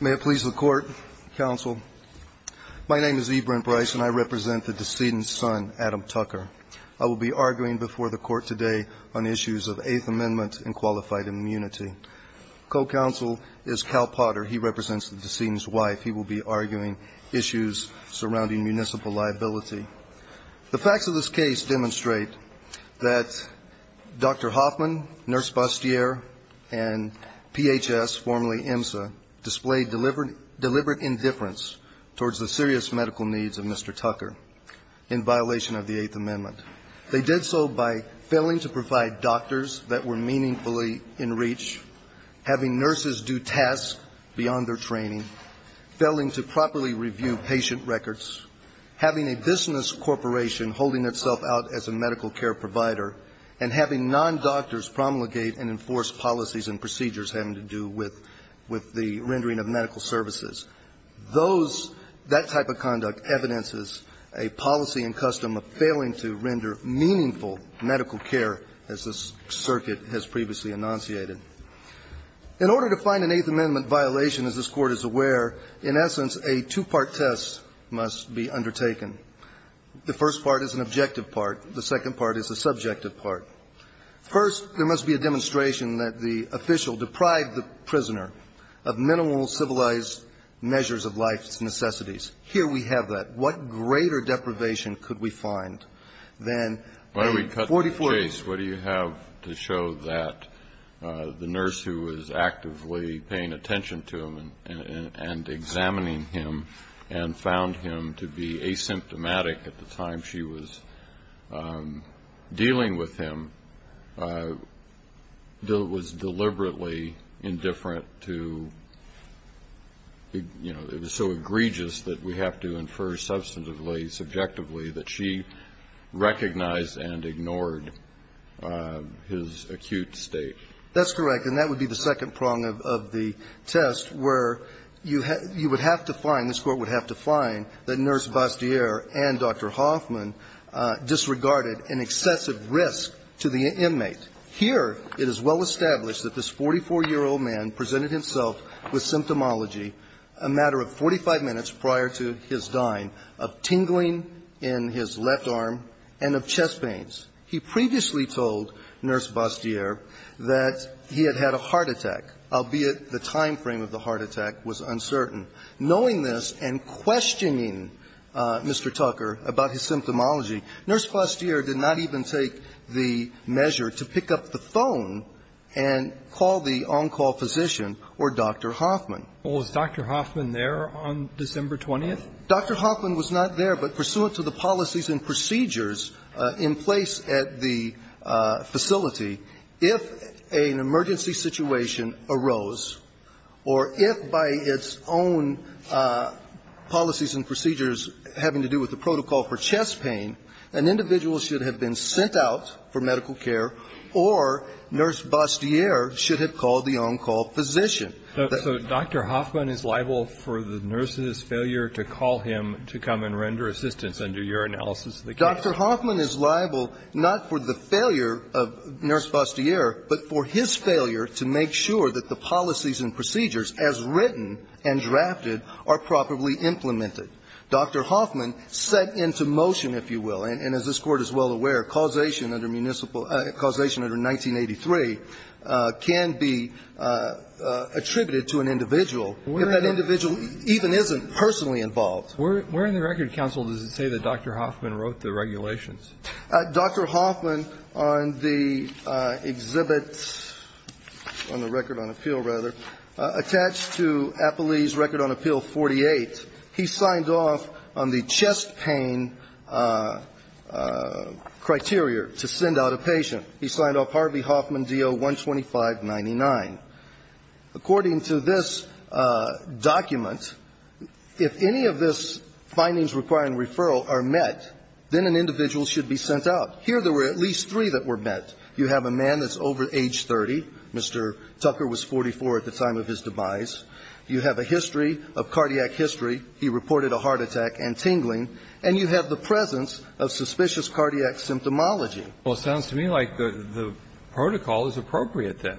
May it please the Court, Counsel. My name is Ibram Brice and I represent the decedent's son, Adam Tucker. I will be arguing before the Court today on issues of Eighth Amendment and Qualified Immunity. Co-Counsel is Cal Potter. He represents the decedent's wife. He will be arguing issues surrounding municipal liability. The facts of this case demonstrate that Dr. Hoffman, Nurse Bastier, and PHS, formerly IMSA, displayed deliberate indifference towards the serious medical needs of Mr. Tucker in violation of the Eighth Amendment. They did so by failing to provide doctors that were meaningfully in reach, having nurses do tasks beyond their training, failing to properly review patient records, having a business corporation holding itself out as a medical care provider, and having non-doctors promulgate and enforce policies and procedures having to do with the rendering of medical services. Those – that type of conduct evidences a policy and custom of failing to render meaningful medical care, as this circuit has previously enunciated. In order to find an Eighth Amendment violation, as this Court is aware, in essence, a two-part test must be undertaken. The first part is an objective part. The second part is a subjective part. First, there must be a demonstration that the official deprived the prisoner of minimal civilized measures of life's necessities. Here we have that. What greater deprivation could we find than a 44-year-old nurse who was actively paying attention to him and examining him and found him to be asymptomatic at the time she was dealing with him, was deliberately indifferent to – you know, it was so egregious that we have to infer substantively, subjectively, that she recognized and ignored his acute state? That's correct, and that would be the second prong of the test, where you would have to find – this Court would have to find that Nurse Bastier and Dr. Hoffman disregarded an excessive risk to the inmate. Here, it is well established that this 44-year-old man presented himself with symptomology a matter of 45 minutes prior to his dying of tingling in his left arm and of chest pains. He previously told Nurse Bastier that he had had a heart attack, albeit the time frame of the heart attack was uncertain. Knowing this and questioning Mr. Tucker about his symptomology, Nurse Bastier did not even take the measure to pick up the phone and call the on-call physician or Dr. Hoffman. Well, was Dr. Hoffman there on December 20th? Dr. Hoffman was not there, but pursuant to the policies and procedures in place at the facility, if an emergency situation arose or if by its own policies and procedures having to do with the protocol for chest pain, an individual should have been sent out for medical care or Nurse Bastier should have called the on-call physician. So Dr. Hoffman is liable for the nurse's failure to call him to come and render assistance under your analysis of the case? Dr. Hoffman is liable not for the failure of Nurse Bastier, but for his failure to make sure that the policies and procedures as written and drafted are properly implemented. Dr. Hoffman set into motion, if you will, and as this Court is well aware, causation under municipal ‑‑ causation under 1983 can be attributed to an individual if that individual even isn't personally involved. Where in the record, counsel, does it say that Dr. Hoffman wrote the regulations? Dr. Hoffman on the exhibit, on the record on appeal, rather, attached to Applee's Record on Appeal 48. He signed off on the chest pain criteria to send out a patient. He signed off Harvey Hoffman D.O. 12599. According to this document, if any of this findings requiring referral are met, then an individual should be sent out. Here there were at least three that were met. You have a man that's over age 30. Mr. Tucker was 44 at the time of his demise. You have a history of cardiac history. He reported a heart attack and tingling. And you have the presence of suspicious cardiac symptomology. Well, it sounds to me like the protocol is appropriate then.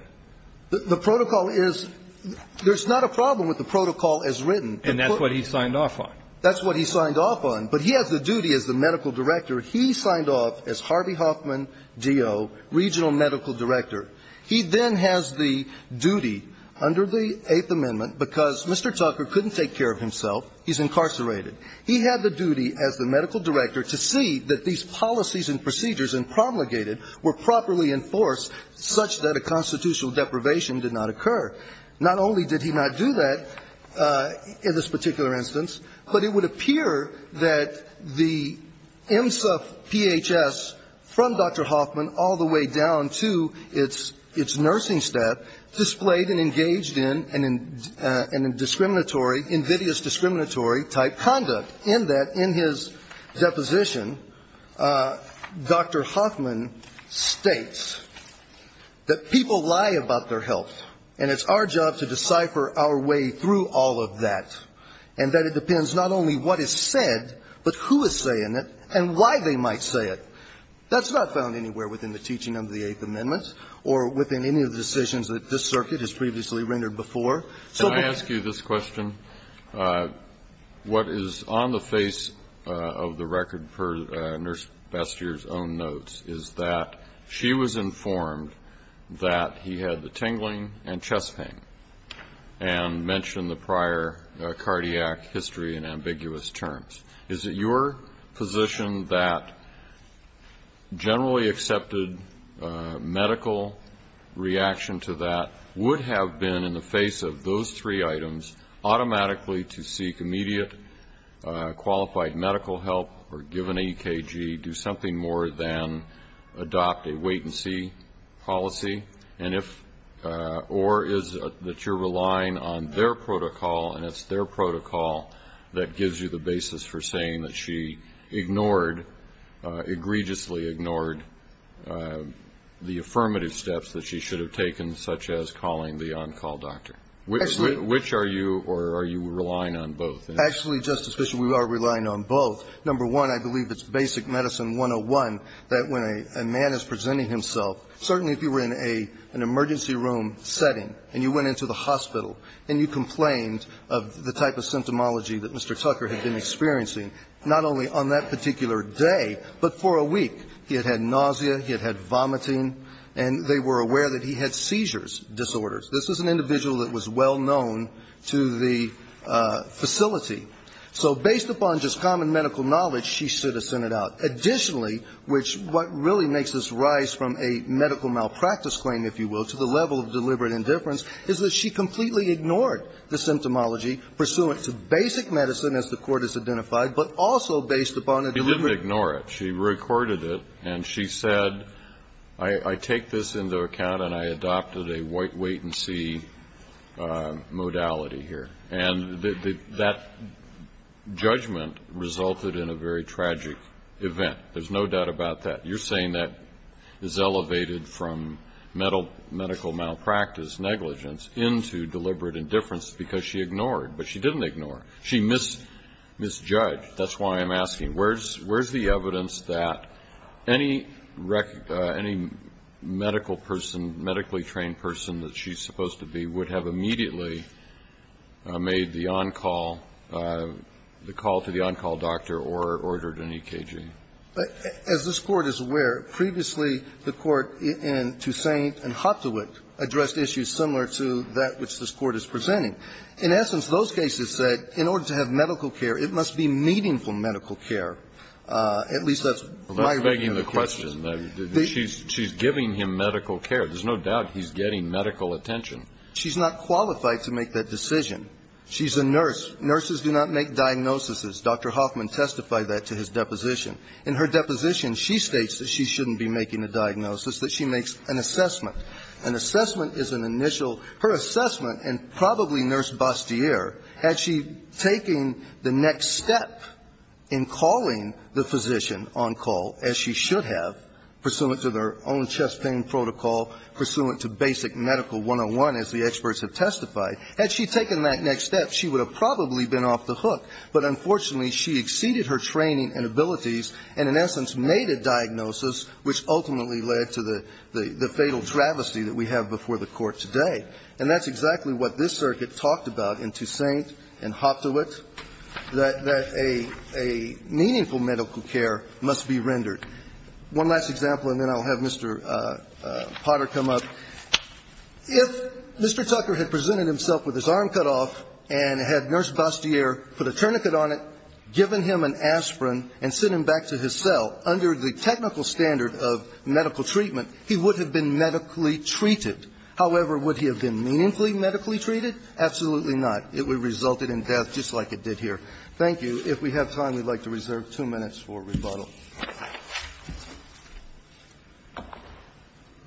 The protocol is ‑‑ there's not a problem with the protocol as written. And that's what he signed off on. That's what he signed off on. But he has the duty as the medical director. He signed off as Harvey Hoffman D.O., regional medical director. He then has the duty under the Eighth Amendment, because Mr. Tucker couldn't take care of himself. He's incarcerated. He had the duty as the medical director to see that these policies and procedures and promulgated were properly enforced such that a constitutional deprivation did not occur. Not only did he not do that in this particular instance, but it would appear that the nursing staff displayed and engaged in an indiscriminatory, invidious discriminatory type conduct, in that in his deposition, Dr. Hoffman states that people lie about their health, and it's our job to decipher our way through all of that, and that it depends not only what is said, but who is saying it and why they might say it. That's not found anywhere within the teaching of the Eighth Amendment or within any of the decisions that this circuit has previously rendered before. So the question Kennedy. Can I ask you this question? What is on the face of the record for Nurse Bestier's own notes is that she was informed that he had the tingling and chest pain and mentioned the prior cardiac history in ambiguous terms. Is it your position that generally accepted medical reaction to that would have been in the face of those three items automatically to seek immediate qualified medical help or give an EKG, do something more than adopt a wait-and-see policy, and if, or is it that you're relying on their protocol that gives you the basis for saying that she ignored, egregiously ignored, the affirmative steps that she should have taken, such as calling the on-call doctor? Which are you, or are you relying on both? Actually, Justice Bishop, we are relying on both. Number one, I believe it's basic medicine 101 that when a man is presenting himself, certainly if you were in an emergency room setting and you went into the hospital and you complained of the type of symptomology that Mr. Tucker had been experiencing, not only on that particular day, but for a week. He had had nausea. He had had vomiting. And they were aware that he had seizures disorders. This was an individual that was well known to the facility. So based upon just common medical knowledge, she should have sent it out. Additionally, which what really makes this rise from a medical malpractice claim, if you will, to the level of deliberate indifference, is that she completely ignored the symptomology pursuant to basic medicine, as the Court has identified, but also based upon a deliberate. She didn't ignore it. She recorded it, and she said, I take this into account and I adopted a wait and see modality here. And that judgment resulted in a very tragic event. There's no doubt about that. You're saying that is elevated from medical malpractice negligence into deliberate indifference because she ignored. But she didn't ignore it. She misjudged. That's why I'm asking, where's the evidence that any medical person, medically trained person that she's supposed to be would have immediately made the on-call, the call to the on-call doctor or ordered an EKG? As this Court is aware, previously the Court in Toussaint and Hottowit addressed issues similar to that which this Court is presenting. In essence, those cases said in order to have medical care, it must be meaningful medical care. At least that's my view of the case. She's begging the question. She's giving him medical care. There's no doubt he's getting medical attention. She's not qualified to make that decision. She's a nurse. Nurses do not make diagnoses. Dr. Hoffman testified that to his deposition. In her deposition, she states that she shouldn't be making a diagnosis, that she makes an assessment. An assessment is an initial her assessment, and probably Nurse Bastier, had she taken the next step in calling the physician on-call, as she should have, pursuant to their own chest pain protocol, pursuant to basic medical 101, as the experts have testified, had she taken that next step, she would have probably been off the hook. But unfortunately, she exceeded her training and abilities and in essence made a diagnosis which ultimately led to the fatal travesty that we have before the Court today. And that's exactly what this circuit talked about in Toussaint and Hoptewitt, that a meaningful medical care must be rendered. One last example, and then I'll have Mr. Potter come up. If Mr. Tucker had presented himself with his arm cut off and had Nurse Bastier put a tourniquet on it, given him an aspirin and sent him back to his cell, under the technical standard of medical treatment, he would have been medically treated. However, would he have been meaningfully medically treated? Absolutely not. It would have resulted in death, just like it did here. Thank you. If we have time, we'd like to reserve two minutes for rebuttal.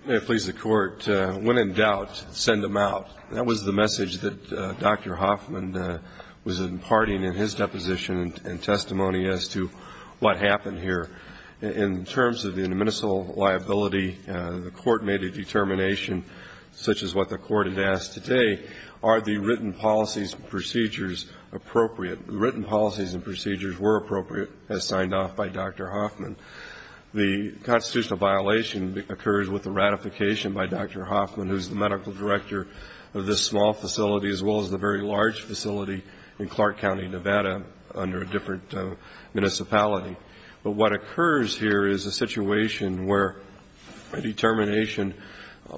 May it please the Court. When in doubt, send them out. That was the message that Dr. Hoffman was imparting in his deposition and testimony as to what happened here. In terms of the admissible liability, the Court made a determination, such as what the Court had asked today, are the written policies and procedures appropriate? The written policies and procedures were appropriate, as signed off by Dr. Hoffman. The constitutional violation occurs with the ratification by Dr. Hoffman, who is the medical director of this small facility, as well as the very large facility in Clark County, Nevada, under a different municipality. But what occurs here is a situation where a determination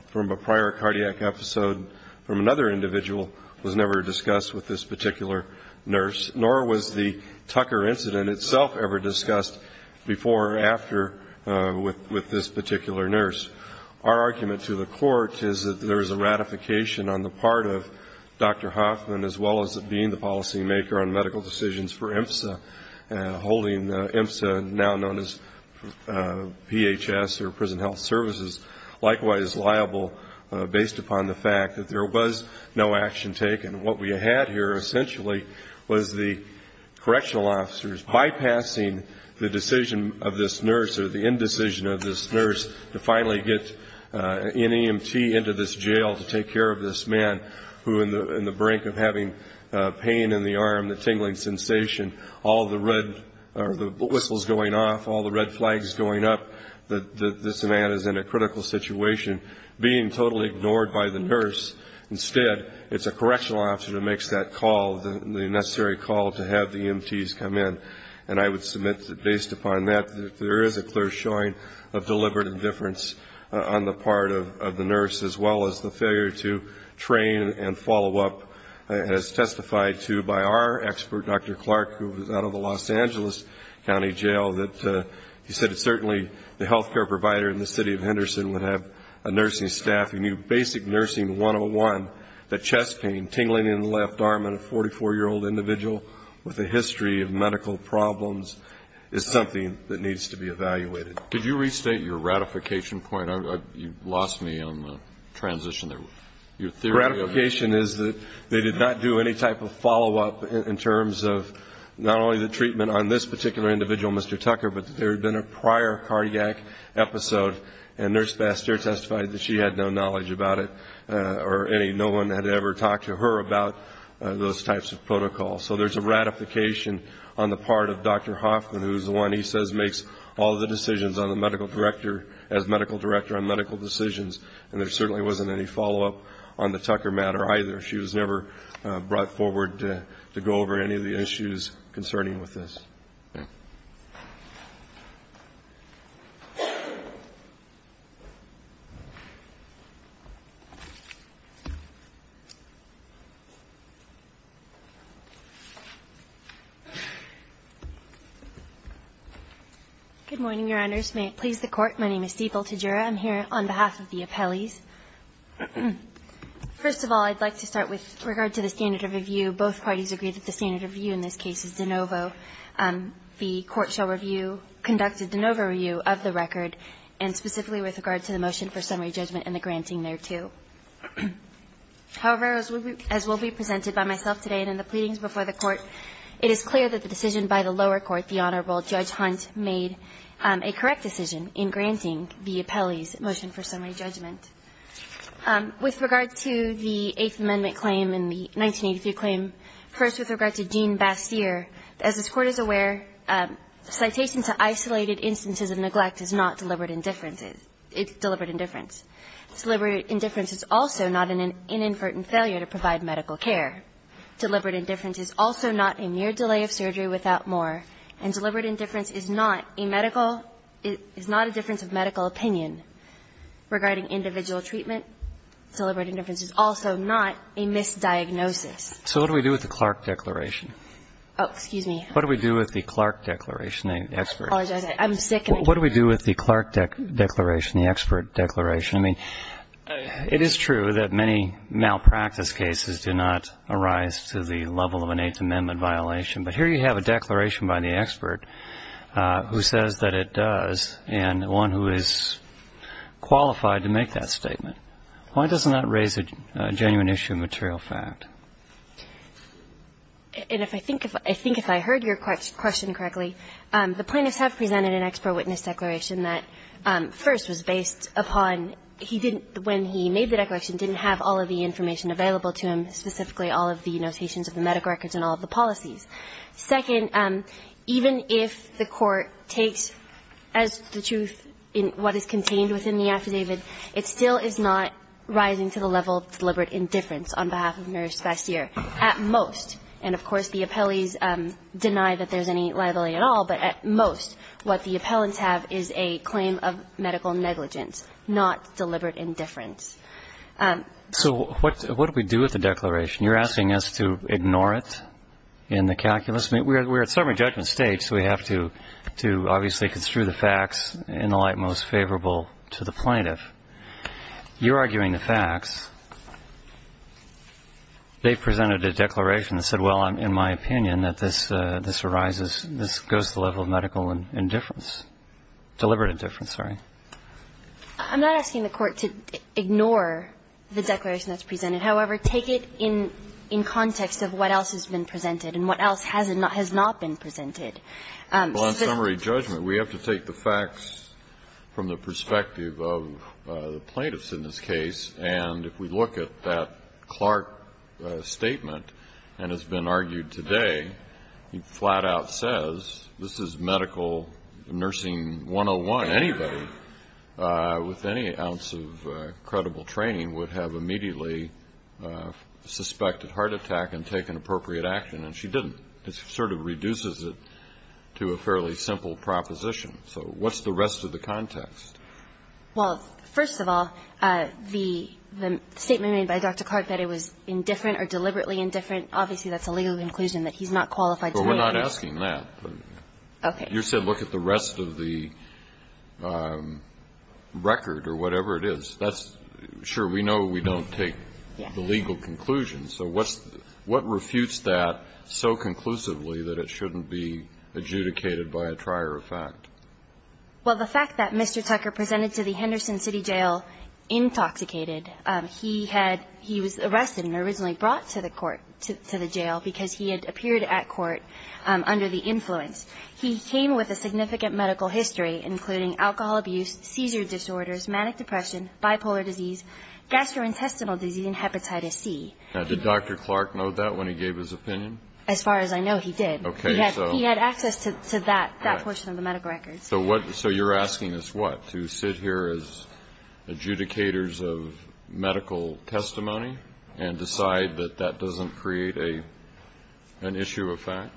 from a prior cardiac episode from another individual was never discussed with this particular nurse, nor was the Tucker incident itself ever discussed before or after with this particular nurse. Our argument to the Court is that there is a ratification on the part of Dr. Hoffman, as well as it being the policymaker on medical decisions for IMSA, holding IMSA, now known as PHS or Prison Health Services, likewise liable based upon the fact that there was no action taken. What we had here essentially was the correctional officers bypassing the decision of this nurse or the indecision of this nurse to finally get an EMT into this jail to take care of this man, who in the brink of having pain in the arm, the tingling sensation, all the red or the whistles going off, all the red flags going up, that this man is in a critical situation, being totally ignored by the nurse. Instead, it's a correctional officer that makes that call, the necessary call to have the EMTs come in. And I would submit that based upon that, there is a clear showing of deliberate indifference on the part of the nurse, as well as the failure to train and follow up, as testified to by our expert, Dr. Clark, who was out of the Los Angeles County Jail, that he said that certainly the health care provider in the city of Henderson would have a nursing staff who knew basic nursing 101, that chest pain, tingling in the left arm in a 44-year-old individual with a history of medical problems is something that needs to be evaluated. Could you restate your ratification point? You lost me on the transition there. The ratification is that they did not do any type of follow-up in terms of not only the treatment on this particular individual, Mr. Tucker, but there had been a prior cardiac episode, and nurse pastor testified that she had no knowledge about it, or no one had ever talked to her about those types of protocols. So there's a ratification on the part of Dr. Hoffman, who is the one he says makes all the decisions as medical director on medical decisions, and there certainly wasn't any follow-up on the Tucker matter either. She was never brought forward to go over any of the issues concerning with this. Good morning, Your Honors. May it please the Court. My name is Stiebel Tajira. I'm here on behalf of the appellees. First of all, I'd like to start with regard to the standard of review. Both parties agree that the standard of review in this case is de novo. The Court shall review, conduct a de novo review of the record, and specifically with regard to the motion for summary judgment and the granting thereto. However, as will be presented by myself today and in the pleadings before the Court, it is clear that the decision by the lower court, the Honorable Judge Hunt, made a correct decision in granting the appellees motion for summary judgment. With regard to the Eighth Amendment claim and the 1983 claim, first with regard to Gene Bastyr, as this Court is aware, citation to isolated instances of neglect is not deliberate indifference. It's deliberate indifference. Deliberate indifference is also not an inadvertent failure to provide medical care. Deliberate indifference is also not a mere delay of surgery without more. And deliberate indifference is not a medical – is not a difference of medical opinion regarding individual treatment. Deliberate indifference is also not a misdiagnosis. So what do we do with the Clark declaration? Oh, excuse me. What do we do with the Clark declaration? I apologize. I'm sick. What do we do with the Clark declaration, the expert declaration? I mean, it is true that many malpractice cases do not arise to the level of an Eighth Amendment violation. But here you have a declaration by the expert who says that it does, and one who is qualified to make that statement. Why doesn't that raise a genuine issue of material fact? And if I think – I think if I heard your question correctly, the plaintiffs have presented an expert witness declaration that, first, was based upon he didn't – when he made the declaration, didn't have all of the information available to him, specifically all of the notations of the medical records and all of the policies. Second, even if the court takes as the truth what is contained within the affidavit, it still is not rising to the level of deliberate indifference on behalf of Mary Spacier, at most. And, of course, the appellees deny that there's any liability at all, but at most what the appellants have is a claim of medical negligence, not deliberate indifference. So what do we do with the declaration? You're asking us to ignore it in the calculus. We're at summary judgment stage, so we have to obviously construe the facts in the light most favorable to the plaintiff. You're arguing the facts. They've presented a declaration that said, well, in my opinion, that this arises – this goes to the level of medical indifference – deliberate indifference, sorry. I'm not asking the Court to ignore the declaration that's presented. However, take it in context of what else has been presented and what else has not been presented. Well, in summary judgment, we have to take the facts from the perspective of the plaintiffs in this case. And if we look at that Clark statement, and it's been argued today, it flat-out says this is medical nursing 101. Anybody with any ounce of credible training would have immediately suspected heart attack and taken appropriate action, and she didn't. It sort of reduces it to a fairly simple proposition. So what's the rest of the context? Well, first of all, the statement made by Dr. Clark that it was indifferent or deliberately indifferent, obviously that's a legal conclusion that he's not qualified to do that. But we're not asking that. Okay. But you said look at the rest of the record or whatever it is. That's – sure, we know we don't take the legal conclusion. So what's the – what refutes that so conclusively that it shouldn't be adjudicated by a trier of fact? Well, the fact that Mr. Tucker presented to the Henderson City Jail intoxicated – he had – he was arrested and originally brought to the court – to the jail because he had appeared at court under the influence. He came with a significant medical history, including alcohol abuse, seizure disorders, manic depression, bipolar disease, gastrointestinal disease, and hepatitis C. Now, did Dr. Clark know that when he gave his opinion? As far as I know, he did. Okay. He had access to that portion of the medical records. So what – so you're asking us what? To sit here as adjudicators of medical testimony and decide that that doesn't create an issue of fact?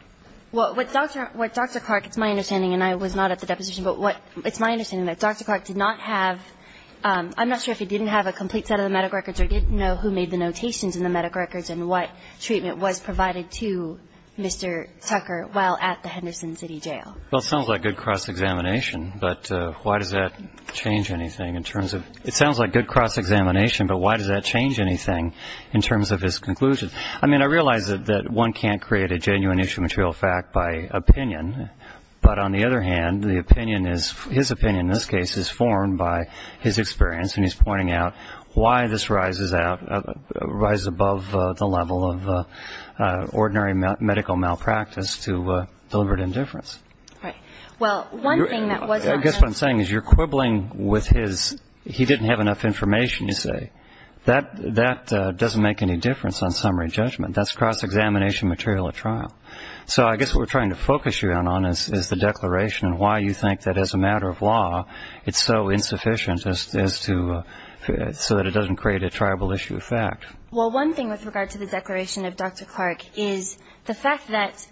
Well, what Dr. Clark – it's my understanding, and I was not at the deposition – but what – it's my understanding that Dr. Clark did not have – I'm not sure if he didn't have a complete set of the medical records or didn't know who made the notations in the medical records and what treatment was provided to Mr. Tucker while at the Henderson City Jail. Well, it sounds like good cross-examination, but why does that change anything in terms of – it sounds like good cross-examination, but why does that change anything in terms of his conclusion? I mean, I realize that one can't create a genuine issue of material fact by opinion, but on the other hand, the opinion is – his opinion in this case is formed by his experience, and he's pointing out why this rises out – rises above the level of ordinary medical malpractice to deliberate indifference. Right. Well, one thing that was not mentioned – I guess what I'm saying is you're quibbling with his – he didn't have enough information, you say. That doesn't make any difference on summary judgment. That's cross-examination material at trial. So I guess what we're trying to focus you on is the declaration and why you think that as a matter of law it's so insufficient as to – so that it doesn't create a triable issue of fact. Well, one thing with regard to the declaration of Dr. Clark is the fact that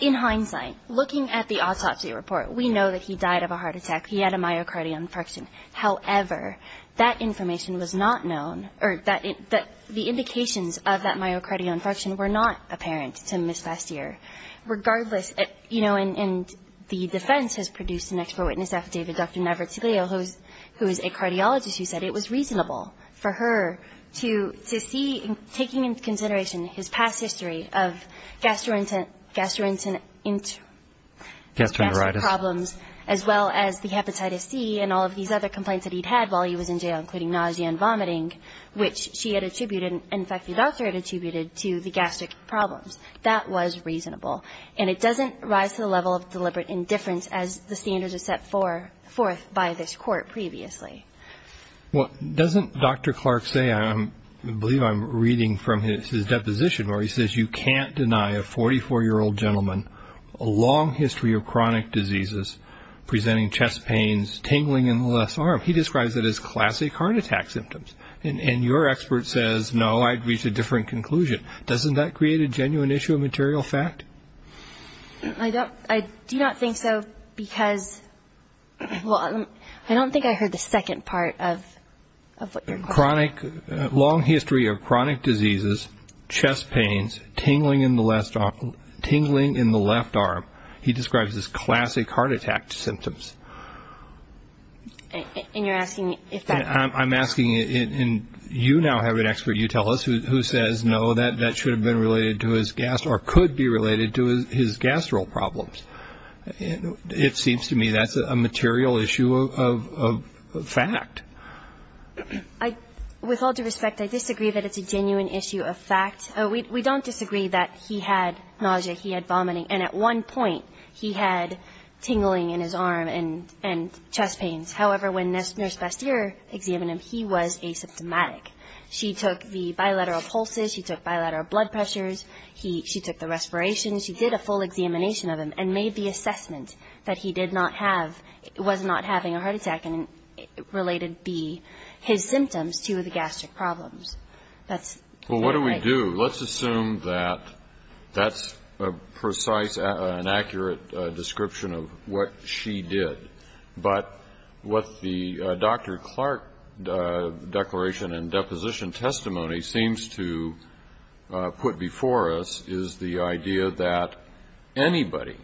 in hindsight, looking at the autopsy report, we know that he died of a heart attack. He had a myocardial infarction. However, that information was not known – or the indications of that myocardial infarction were not apparent to Ms. Bastier. Regardless, you know, and the defense has produced an expert witness affidavit, Dr. Navratilo, who is a cardiologist, who said it was reasonable for her to see, taking into consideration his past history of gastrointestinal problems as well as the hepatitis C and all of these other complaints that he'd had while he was in jail, including nausea and vomiting, which she had attributed and in fact the doctor had attributed to the gastric problems. That was reasonable. And it doesn't rise to the level of deliberate indifference as the standards are set forth by this court previously. Well, doesn't Dr. Clark say – I believe I'm reading from his deposition where he says, you can't deny a 44-year-old gentleman a long history of chronic diseases presenting chest pains, tingling in the left arm. He describes it as classic heart attack symptoms. And your expert says, no, I'd reach a different conclusion. Doesn't that create a genuine issue of material fact? I do not think so because – well, I don't think I heard the second part of what you're quoting. Long history of chronic diseases, chest pains, tingling in the left arm. He describes it as classic heart attack symptoms. And you're asking if that – I'm asking – and you now have an expert, you tell us, who says, no, that should have been related to his – or could be related to his gastro problems. It seems to me that's a material issue of fact. With all due respect, I disagree that it's a genuine issue of fact. We don't disagree that he had nausea, he had vomiting, and at one point he had tingling in his arm and chest pains. However, when Nurse Bastier examined him, he was asymptomatic. She took the bilateral pulses. She took bilateral blood pressures. She took the respiration. She did a full examination of him and made the assessment that he did not have – that it shouldn't related be his symptoms to the gastric problems. That's not right. Well, what do we do? Let's assume that that's a precise and accurate description of what she did. But what the Dr. Clark declaration and deposition testimony seems to put before us is the idea that anybody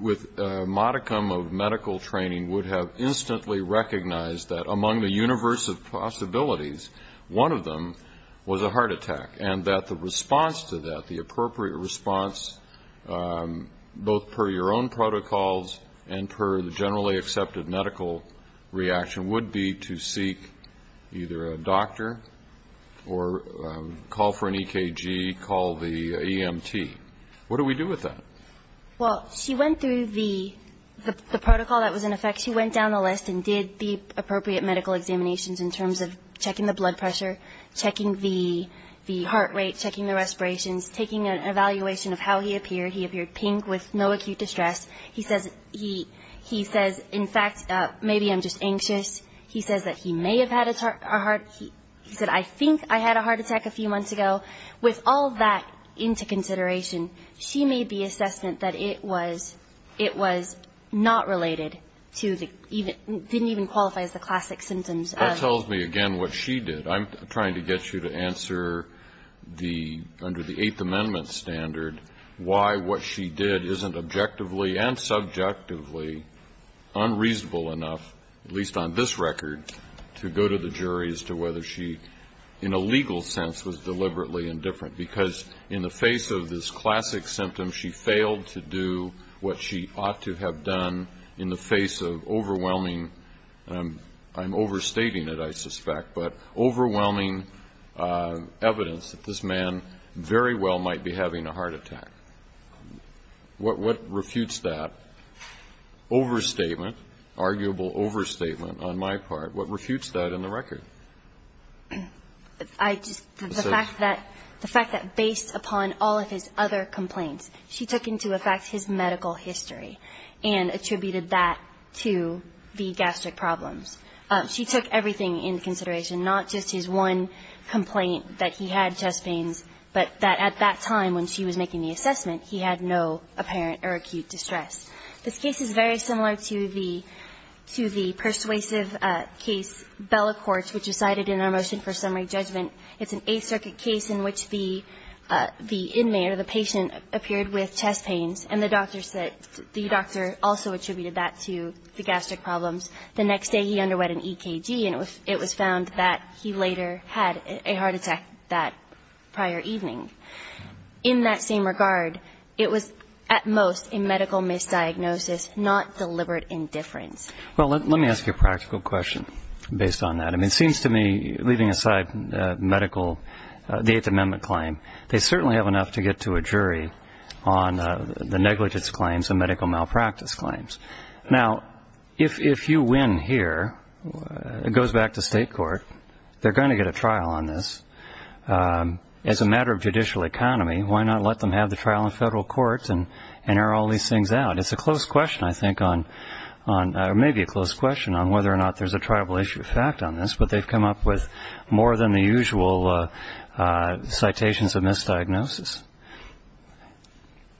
with a modicum of medical training would have instantly recognized that among the universe of possibilities, one of them was a heart attack, and that the response to that, the appropriate response, both per your own protocols and per the generally accepted medical reaction, would be to seek either a doctor or call for an EKG, call the EMT. What do we do with that? Well, she went through the protocol that was in effect. She went down the list and did the appropriate medical examinations in terms of checking the blood pressure, checking the heart rate, checking the respirations, taking an evaluation of how he appeared. He appeared pink with no acute distress. He says, in fact, maybe I'm just anxious. He says that he may have had a heart. He said, I think I had a heart attack a few months ago. With all that into consideration, she made the assessment that it was not related to the, didn't even qualify as the classic symptoms. That tells me, again, what she did. I'm trying to get you to answer the, under the Eighth Amendment standard, why what she did isn't objectively and subjectively unreasonable enough, at least on this record, to go to the jury as to whether she, in a legal sense, was deliberately indifferent. Because in the face of this classic symptom, she failed to do what she ought to have done in the face of overwhelming, and I'm overstating it, I suspect, but overwhelming evidence that this man very well might be having a heart attack. What refutes that overstatement, arguable overstatement on my part, what refutes that in the record? The fact that based upon all of his other complaints, she took into effect his medical history and attributed that to the gastric problems. She took everything into consideration, not just his one complaint that he had chest pains, but that at that time when she was making the assessment, he had no apparent or acute distress. This case is very similar to the persuasive case, Bella Courts, which is cited in our motion for summary judgment. It's an Eighth Circuit case in which the inmate or the patient appeared with chest pains, and the doctor said, the doctor also attributed that to the gastric problems. The next day he underwent an EKG, and it was found that he later had a heart attack that prior evening. In that same regard, it was at most a medical misdiagnosis, not deliberate indifference. Well, let me ask you a practical question based on that. I mean, it seems to me, leaving aside medical, the Eighth Amendment claim, they certainly have enough to get to a jury on the negligence claims and medical malpractice claims. Now, if you win here, it goes back to state court. They're going to get a trial on this. As a matter of judicial economy, why not let them have the trial in federal courts and air all these things out? It's a close question, I think, or maybe a close question, on whether or not there's a triable issue of fact on this, but they've come up with more than the usual citations of misdiagnosis.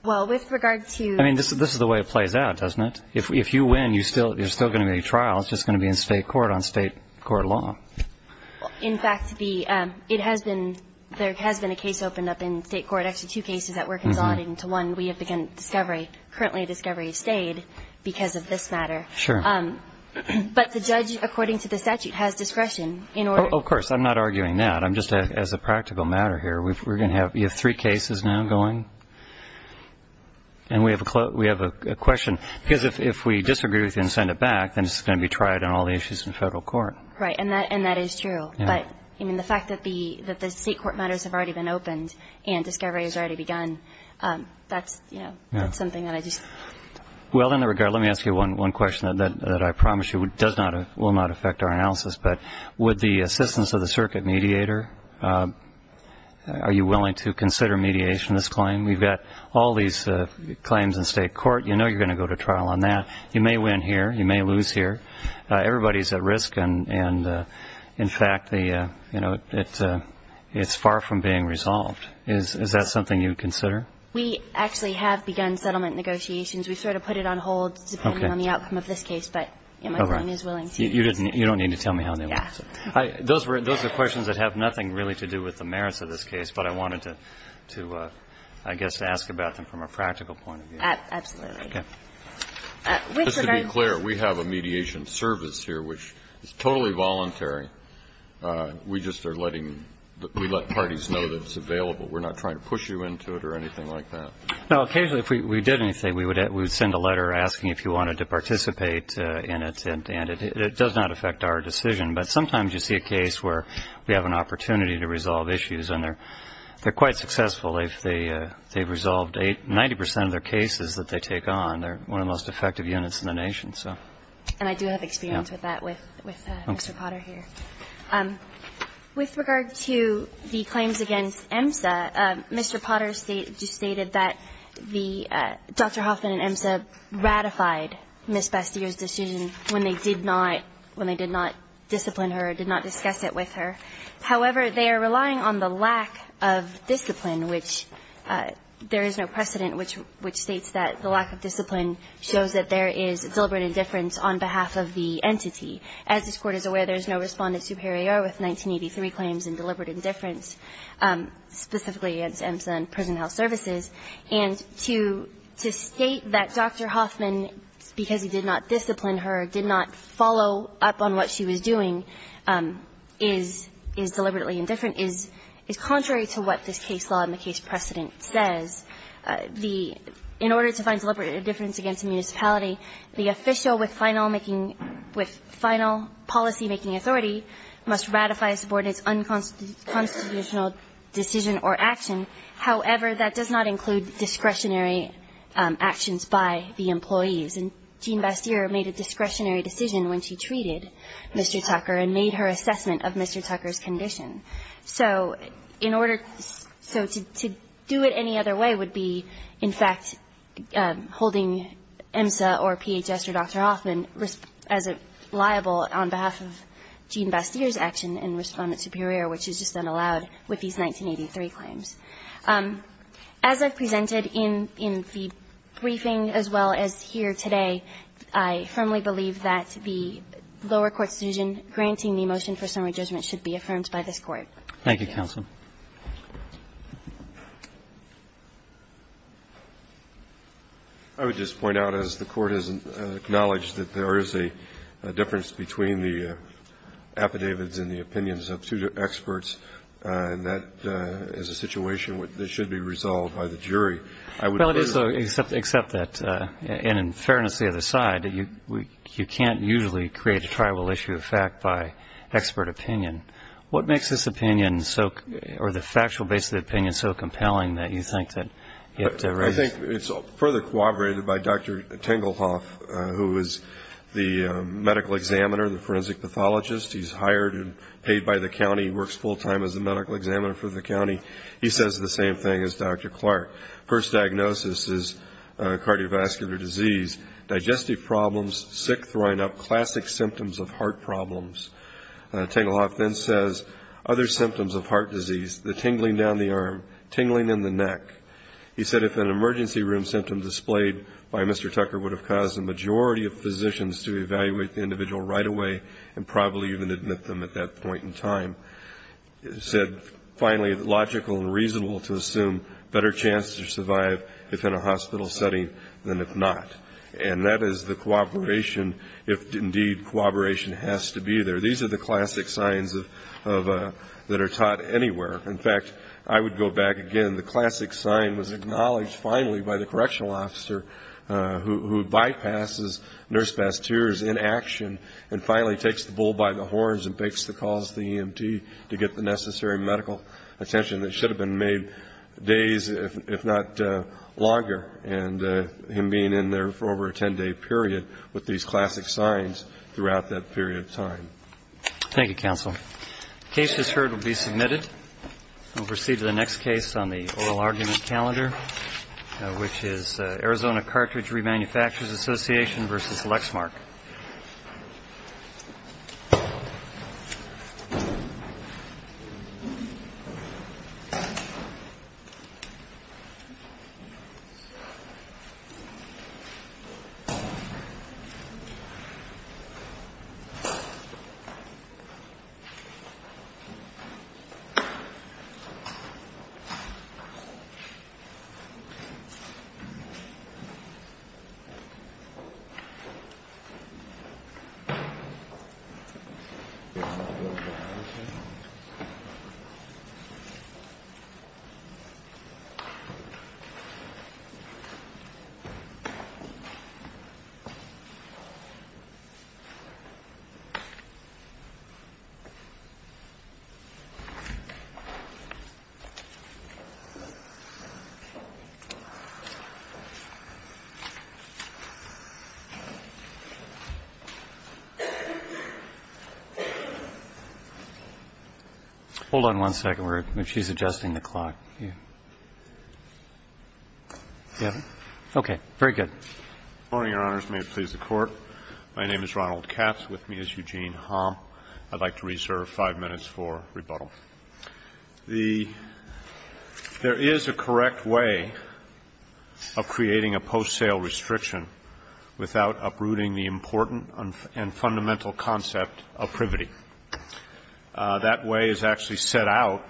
Well, with regard to... I mean, this is the way it plays out, doesn't it? If you win, there's still going to be a trial. It's just going to be in state court on state court law. In fact, there has been a case opened up in state court, actually two cases that were consolidated into one. We have begun discovery. Currently, discovery has stayed because of this matter. Sure. But the judge, according to the statute, has discretion in order... Of course, I'm not arguing that. I'm just, as a practical matter here, we're going to have three cases now going. And we have a question. Because if we disagree with you and send it back, then it's going to be tried on all the issues in federal court. Right. And that is true. But, I mean, the fact that the state court matters have already been opened and discovery has already begun, that's something that I just... Well, in that regard, let me ask you one question that I promise you will not affect our analysis. But would the assistance of the circuit mediator, are you willing to consider mediation of this claim? We've got all these claims in state court. You know you're going to go to trial on that. You may win here. You may lose here. Everybody is at risk. And, in fact, it's far from being resolved. Is that something you would consider? We actually have begun settlement negotiations. We've sort of put it on hold depending on the outcome of this case. But my client is willing to... You don't need to tell me how they want to do it. Those are questions that have nothing really to do with the merits of this case, but I wanted to, I guess, ask about them from a practical point of view. Absolutely. Just to be clear, we have a mediation service here, which is totally voluntary. We just are letting the parties know that it's available. We're not trying to push you into it or anything like that. No. Occasionally, if we did anything, we would send a letter asking if you wanted to participate in it, and it does not affect our decision. But sometimes you see a case where we have an opportunity to resolve issues, and they're quite successful if they've resolved 90% of their cases that they take on. They're one of the most effective units in the nation. And I do have experience with that with Mr. Potter here. With regard to the claims against EMSA, Mr. Potter stated that the Dr. Hoffman and EMSA ratified Ms. Bastyr's decision when they did not, when they did not discipline her or did not discuss it with her. However, they are relying on the lack of discipline, which there is no precedent which states that the lack of discipline shows that there is deliberate indifference on behalf of the entity. As this Court is aware, there is no Respondent Superior with 1983 claims in deliberate indifference, specifically against EMSA and prison health services. And to state that Dr. Hoffman, because he did not discipline her, did not follow up on what she was doing, is deliberately indifferent is contrary to what this case law and the case precedent says. The --"In order to find deliberate indifference against a municipality, the official with final making, with final policymaking authority must ratify a subordinate's unconstitutional decision or action. However, that does not include discretionary actions by the employees." And Jean Bastyr made a discretionary decision when she treated Mr. Tucker and made her assessment of Mr. Tucker's condition. So in order, so to do it any other way would be, in fact, holding EMSA or PHS or Dr. Hoffman as liable on behalf of Jean Bastyr's action in Respondent Superior, which is just unallowed with these 1983 claims. As I've presented in the briefing as well as here today, I firmly believe that the lower court's decision granting the motion for summary judgment should be affirmed by this Court. Thank you, counsel. I would just point out, as the Court has acknowledged, that there is a difference between the affidavits and the opinions of two experts, and that is a situation that should be resolved by the jury. Well, it is, though, except that in fairness to the other side, you can't usually create a tribal issue of fact by expert opinion. What makes this opinion so, or the factual basis of the opinion, so compelling that you think that it raises? I think it's further corroborated by Dr. Tengelhoff, who is the medical examiner, the forensic pathologist. He's hired and paid by the county. He works full time as the medical examiner for the county. He says the same thing as Dr. Clark. First diagnosis is cardiovascular disease, digestive problems, sick throwing up, classic symptoms of heart problems. Tengelhoff then says other symptoms of heart disease, the tingling down the arm, tingling in the neck. He said if an emergency room symptom displayed by Mr. Tucker would have caused the majority of physicians to evaluate the individual right away and probably even admit them at that point in time. He said, finally, it's logical and reasonable to assume better chances to survive if in a hospital setting than if not. And that is the corroboration, if indeed corroboration has to be there. These are the classic signs that are taught anywhere. In fact, I would go back again. The classic sign was acknowledged finally by the correctional officer who bypasses nurse pasteurs in action and finally takes the bull by the horns and makes the calls to the EMT to get the necessary medical attention that should have been made days, if not longer. And him being in there for over a 10-day period with these classic signs throughout that period of time. Thank you, counsel. The case is heard and will be submitted. We'll proceed to the next case on the oral argument calendar, which is Arizona Cartridge Remanufacturers Association v. Lexmark. Thank you. Hold on one second. She's adjusting the clock. Okay. Very good. Good morning, Your Honors. May it please the Court. My name is Ronald Katz. With me is Eugene Hom. I'd like to reserve five minutes for rebuttal. There is a correct way of creating a post-sale restriction without uprooting the important and fundamental concept of privity. That way is actually set out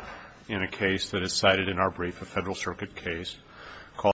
in a case that is cited in our brief, a Federal Circuit case called